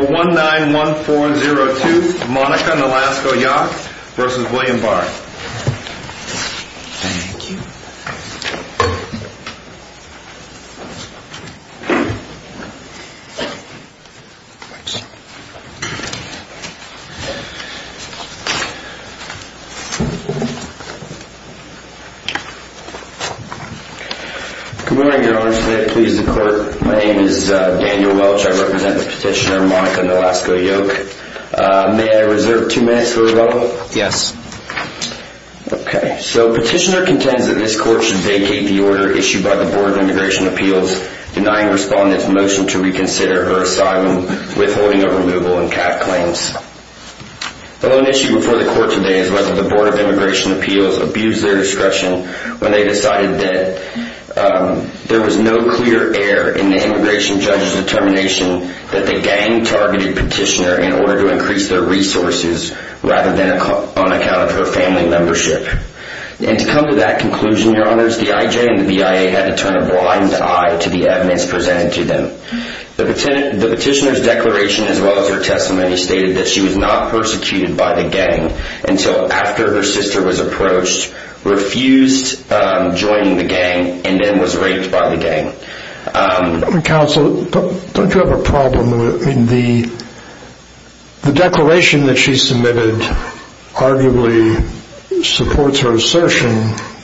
191402 Monica Nolasco-Yok v. William Barr Thank you. Good morning, Your Honor. Today I please the Court. My name is Daniel Welch. I represent the petitioner Monica Nolasco-Yok. May I reserve two minutes for rebuttal? Yes. Petitioner contends that this Court should vacate the order issued by the Board of Immigration Appeals denying Respondent's motion to reconsider her asylum withholding of removal and CAF claims. The lone issue before the Court today is whether the Board of Immigration Appeals abused their discretion when they decided that there was no clear error in the immigration judge's determination that the gang targeted petitioner in order to increase their resources rather than on account of her family membership. And to come to that conclusion, Your Honors, the IJ and the BIA had to turn a blind eye to the evidence presented to them. The petitioner's declaration as well as her testimony stated that she was not persecuted by the gang until after her sister was approached, refused joining the gang, and then was raped by the gang. Counsel, don't you have a problem with the declaration that she submitted arguably supports her assertion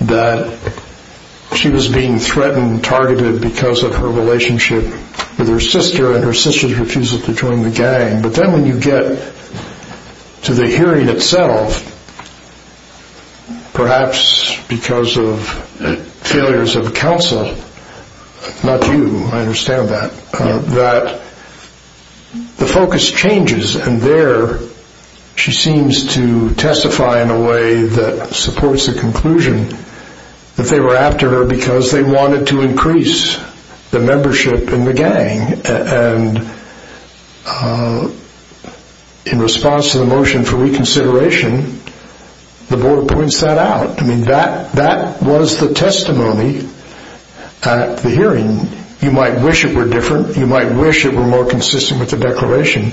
that she was being threatened and targeted because of her relationship with her sister and her sister's refusal to join the gang. But then when you get to the hearing itself, perhaps because of failures of counsel, not you, I understand that, that the focus changes and there she seems to testify in a way that supports the conclusion that they were after her because they wanted to increase the membership in the gang. And in response to the motion for reconsideration, the board points that out. I mean, that was the testimony at the hearing. You might wish it were different. You might wish it were more consistent with the declaration.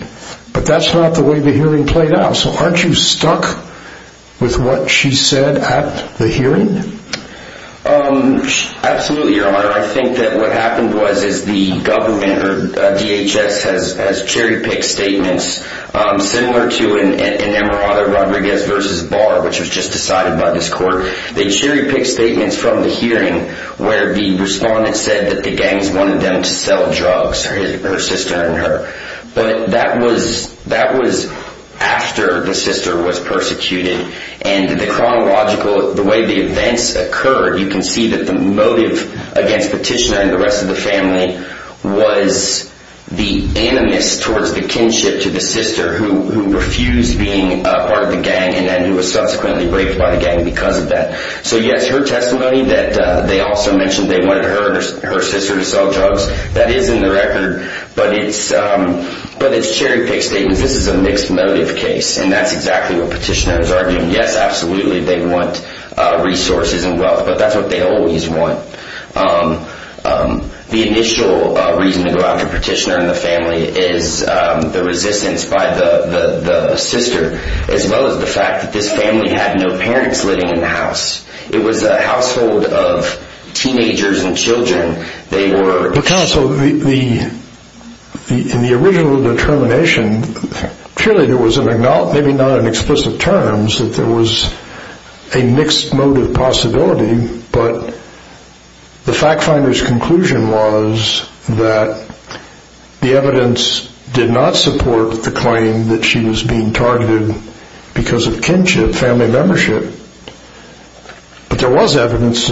But that's not the way the hearing played out. So aren't you stuck with what she said at the hearing? Absolutely, Your Honor. I think that what happened was the government, or DHS, has cherry-picked statements similar to an emirate of Rodriguez v. Barr, which was just decided by this court. They cherry-picked statements from the hearing where the respondent said that the gangs wanted them to sell drugs, her sister and her. But that was after the sister was persecuted. And the chronological, the way the events occurred, you can see that the motive against Petitioner and the rest of the family was the animus towards the kinship to the sister who refused being part of the gang and then who was subsequently raped by the gang because of that. So yes, her testimony that they also mentioned they wanted her sister to sell drugs, that is in the record, but it's cherry-picked statements. This is a mixed motive case, and that's exactly what Petitioner is arguing. Yes, absolutely, they want resources and wealth, but that's what they always want. The initial reason to go after Petitioner and the family is the resistance by the sister as well as the fact that this family had no parents living in the house. It was a household of teenagers and children. Counsel, in the original determination, clearly there was an acknowledgment, maybe not in explicit terms, that there was a mixed motive possibility, but the fact finder's conclusion was that the evidence did not support the claim that she was being targeted because of kinship, family membership. But there was evidence,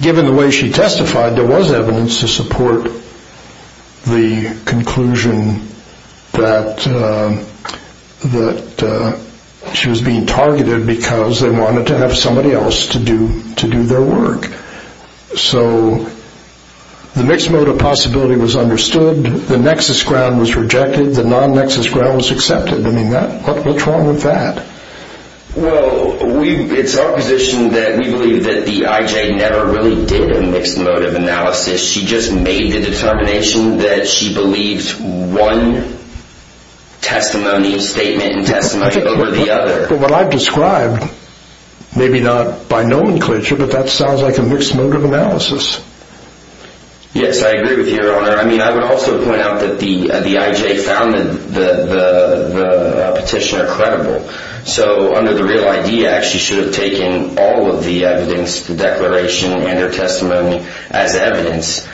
given the way she testified, there was evidence to support the conclusion that she was being targeted because they wanted to have somebody else to do their work. So the mixed motive possibility was understood, the nexus ground was rejected, the non-nexus ground was accepted. I mean, what's wrong with that? Well, it's our position that we believe that the IJ never really did a mixed motive analysis. She just made the determination that she believed one testimony, statement and testimony over the other. But what I've described, maybe not by nomenclature, but that sounds like a mixed motive analysis. Yes, I agree with you, Your Honor. I mean, I would also point out that the IJ found the petitioner credible. So under the Real ID Act, she should have taken all of the evidence, the declaration and her testimony as evidence.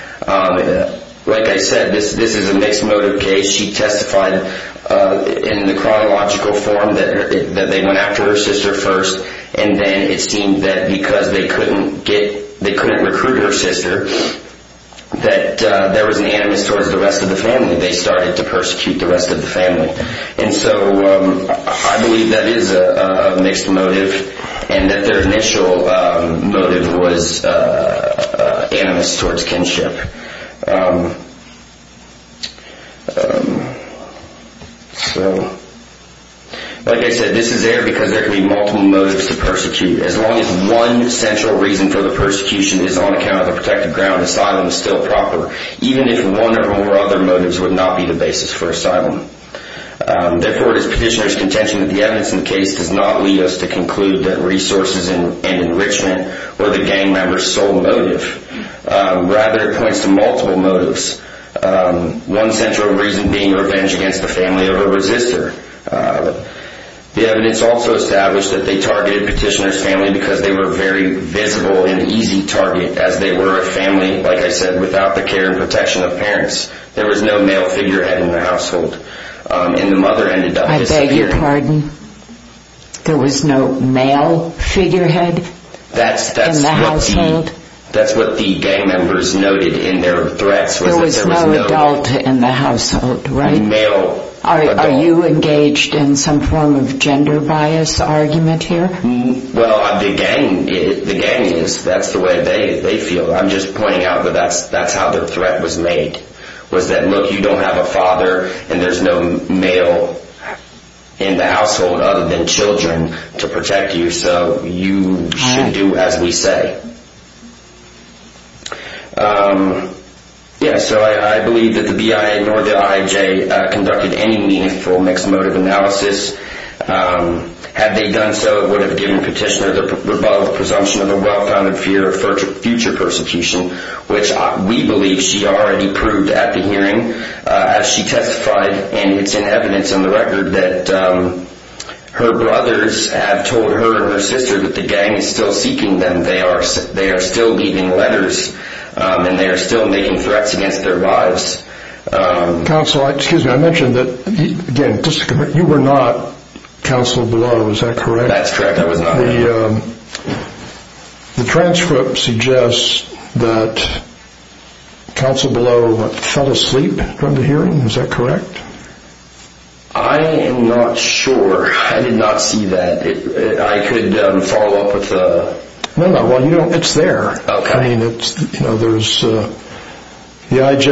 Like I said, this is a mixed motive case. She testified in the chronological form that they went after her sister first, and then it seemed that because they couldn't recruit her sister, that there was an animus towards the rest of the family. They started to persecute the rest of the family. And so I believe that is a mixed motive and that their initial motive was animus towards kinship. Like I said, this is there because there can be multiple motives to persecute. As long as one central reason for the persecution is on account of the protected ground, asylum is still proper, even if one or more other motives would not be the basis for asylum. Therefore, it is petitioner's contention that the evidence in the case does not lead us to conclude that resources and enrichment were the gang member's sole motive. Rather, it points to multiple motives, one central reason being revenge against the family of her resister. The evidence also established that they targeted petitioner's family because they were a very visible and easy target, as they were a family, like I said, without the care and protection of parents. There was no male figurehead in the household, and the mother ended up disappearing. I beg your pardon? There was no male figurehead in the household? That's what the gang members noted in their threats. There was no adult in the household, right? Are you engaged in some form of gender bias argument here? Well, the gang is. That's the way they feel. I'm just pointing out that that's how the threat was made, was that, look, you don't have a father, and there's no male in the household other than children to protect you, so you should do as we say. Yes, so I believe that the BIA nor the IJ conducted any meaningful mixed motive analysis. Had they done so, it would have given petitioner the rebuttal presumption of a well-founded fear of future persecution, which we believe she already proved at the hearing as she testified, and it's in evidence in the record that her brothers have told her and her sister that the gang is still seeking them. They are still leaving letters, and they are still making threats against their lives. Counsel, excuse me. I mentioned that, again, you were not Counsel Below. Is that correct? That's correct. I was not. The transcript suggests that Counsel Below fell asleep from the hearing. Is that correct? I am not sure. I did not see that. I could follow up with the… No, no. It's there. The IJ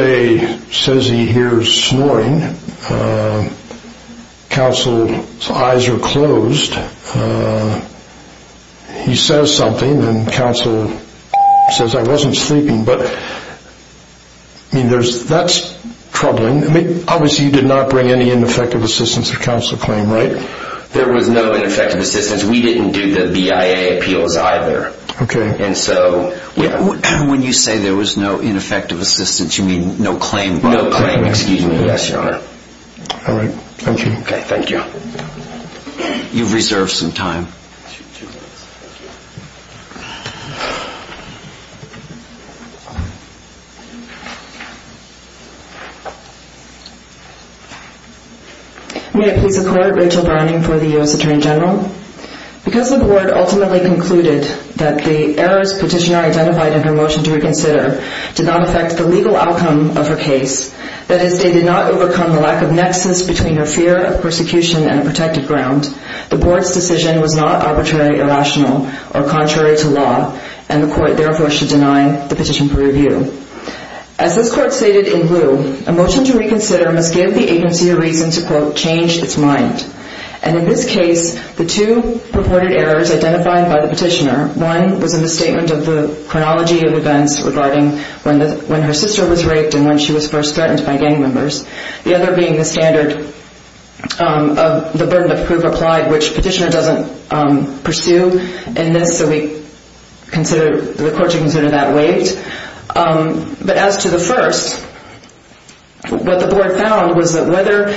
says he hears snoring. Counsel's eyes are closed. He says something, and Counsel says, I wasn't sleeping, but that's troubling. Obviously, you did not bring any ineffective assistance to Counsel's claim, right? There was no ineffective assistance. We didn't do the BIA appeals either. Okay. And so… When you say there was no ineffective assistance, you mean no claim? No claim. Excuse me. Yes, Your Honor. All right. Thank you. Okay. Thank you. You've reserved some time. Two minutes. Thank you. May it please the Court, Rachel Browning for the U.S. Attorney General. Because the Board ultimately concluded that the errors Petitioner identified in her motion to reconsider did not affect the legal outcome of her case, that is, they did not overcome the lack of nexus between her fear of persecution and a protected ground, the Board's decision was not arbitrary, irrational, or contrary to law, and the Court therefore should deny the petition for review. As this Court stated in lieu, a motion to reconsider must give the agency a reason to, quote, change its mind. And in this case, the two purported errors identified by the Petitioner, one was a misstatement of the chronology of events regarding when her sister was raped and when she was first threatened by gang members, the other being the standard of the burden of proof applied, which Petitioner doesn't pursue in this, so we consider, the Court should consider that waived. But as to the first, what the Board found was that whether,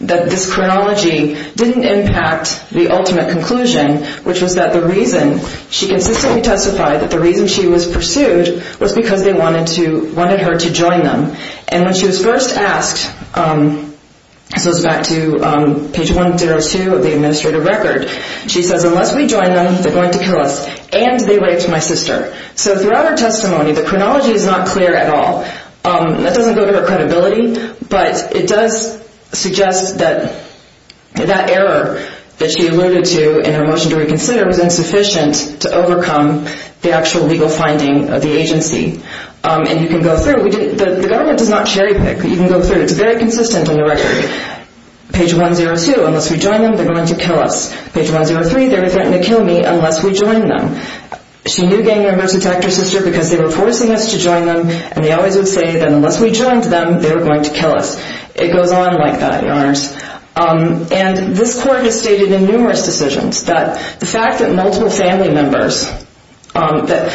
that this chronology didn't impact the ultimate conclusion, which was that the reason she consistently testified that the reason she was pursued was because they wanted to, wanted her to join them. And when she was first asked, this goes back to page 102 of the administrative record, she says, unless we join them, they're going to kill us, and they raped my sister. So throughout her testimony, the chronology is not clear at all. That doesn't go to her credibility, but it does suggest that that error that she alluded to in her motion to reconsider was insufficient to overcome the actual legal finding of the agency. And you can go through, the government does not cherry pick, you can go through, it's very consistent in the record. Page 102, unless we join them, they're going to kill us. Page 103, they were threatened to kill me unless we joined them. She knew gang members attacked her sister because they were forcing us to join them, and they always would say that unless we joined them, they were going to kill us. It goes on like that, Your Honors. And this Court has stated in numerous decisions that the fact that multiple family members, that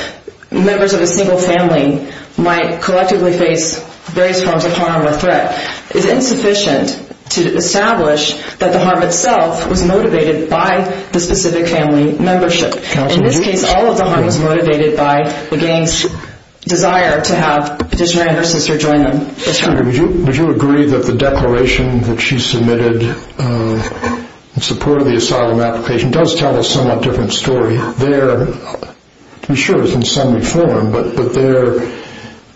members of a single family might collectively face various forms of harm or threat is insufficient to establish that the harm itself was motivated by the specific family membership. In this case, all of the harm was motivated by the gang's desire to have Petitioner and her sister join them. Would you agree that the declaration that she submitted in support of the asylum application does tell a somewhat different story? There, to be sure, it's in summary form, but there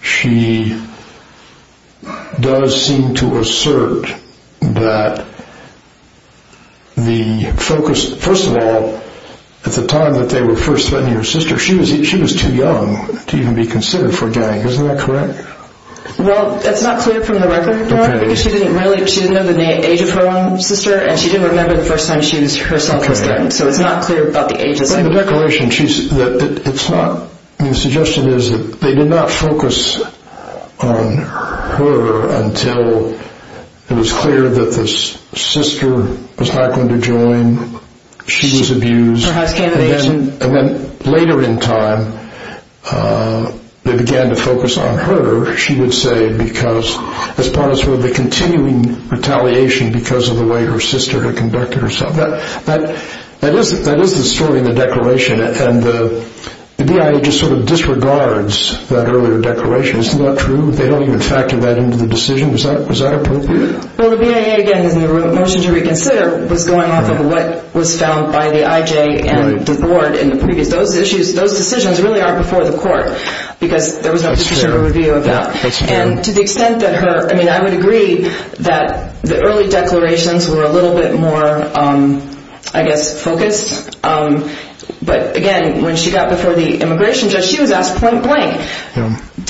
she does seem to assert that the focus, first of all, at the time that they were first threatening her sister, she was too young to even be considered for a gang. Isn't that correct? Well, that's not clear from the record, Your Honor, because she didn't really, she didn't know the age of her own sister, and she didn't remember the first time she herself was threatened, so it's not clear about the age of the sister. But in the declaration, it's not, the suggestion is that they did not focus on her until it was clear that the sister was not going to join, she was abused, and then later in time, they began to focus on her, she would say, as part of the continuing retaliation because of the way her sister had conducted herself. That is the story in the declaration, and the BIA just sort of disregards that earlier declaration. Isn't that true? They don't even factor that into the decision. Is that appropriate? Well, the BIA, again, in the motion to reconsider, was going off of what was found by the IJ and the Board in the previous, those decisions really are before the court, because there was no Petitioner review of that. And to the extent that her, I mean, I would agree that the early declarations were a little bit more, I guess, focused, but again, when she got before the immigration judge, she was asked point blank,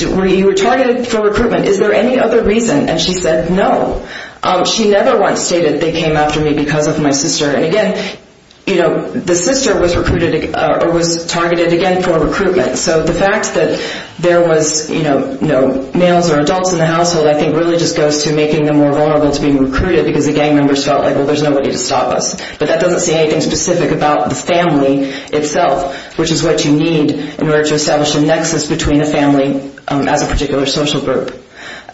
were you targeted for recruitment, is there any other reason, and she said no. She never once stated they came after me because of my sister, and again, you know, the sister was recruited, or was targeted again for recruitment, so the fact that there was, you know, males or adults in the household, I think really just goes to making them more vulnerable to being recruited because the gang members felt like, well, there's nobody to stop us. But that doesn't say anything specific about the family itself, which is what you need in order to establish a nexus between a family as a particular social group.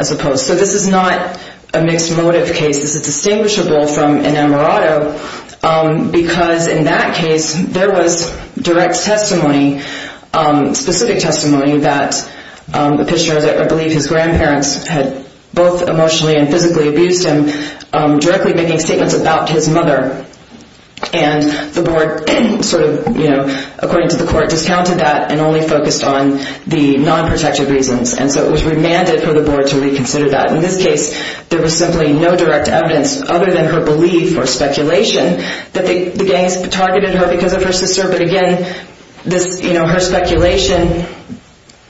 So this is not a mixed motive case. This is distinguishable from an emerato because in that case, there was direct testimony, specific testimony that the Petitioner, I believe his grandparents had both emotionally and physically abused him, directly making statements about his mother, and the board sort of, you know, according to the court, discounted that and only focused on the non-protective reasons, and so it was remanded for the board to reconsider that. In this case, there was simply no direct evidence other than her belief or speculation that the gangs targeted her because of her sister, but again, this, you know, her speculation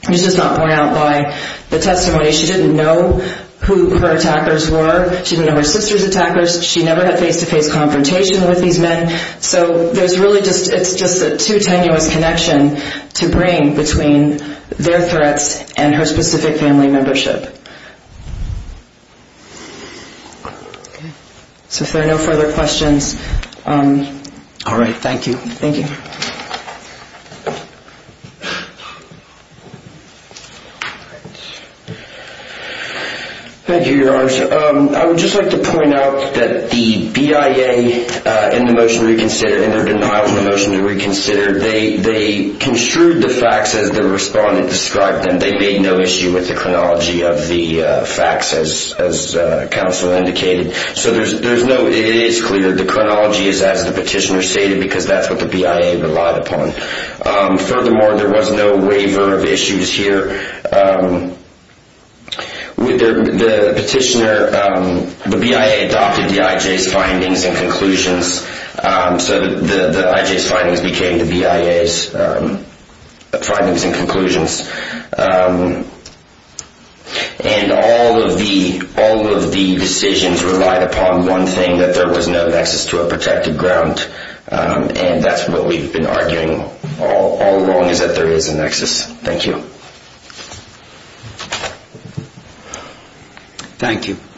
was just not borne out by the testimony. She didn't know who her attackers were. She didn't know her sister's attackers. She never had face-to-face confrontation with these men, so there's really just, it's just a too tenuous connection to bring between their threats and her specific family membership. So if there are no further questions. All right, thank you. Thank you. Thank you, Your Honor. I would just like to point out that the BIA in the motion to reconsider, in their denial of the motion to reconsider, they construed the facts as the respondent described them. They made no issue with the chronology of the facts, as counsel indicated. So there's no, it is clear the chronology is as the petitioner stated because that's what the BIA relied upon. Furthermore, there was no waiver of issues here. The petitioner, the BIA adopted the IJ's findings and conclusions, so the IJ's findings became the BIA's findings and conclusions. And all of the decisions relied upon one thing, that there was no nexus to a protected ground, and that's what we've been arguing all along, is that there is a nexus. Thank you. Thank you.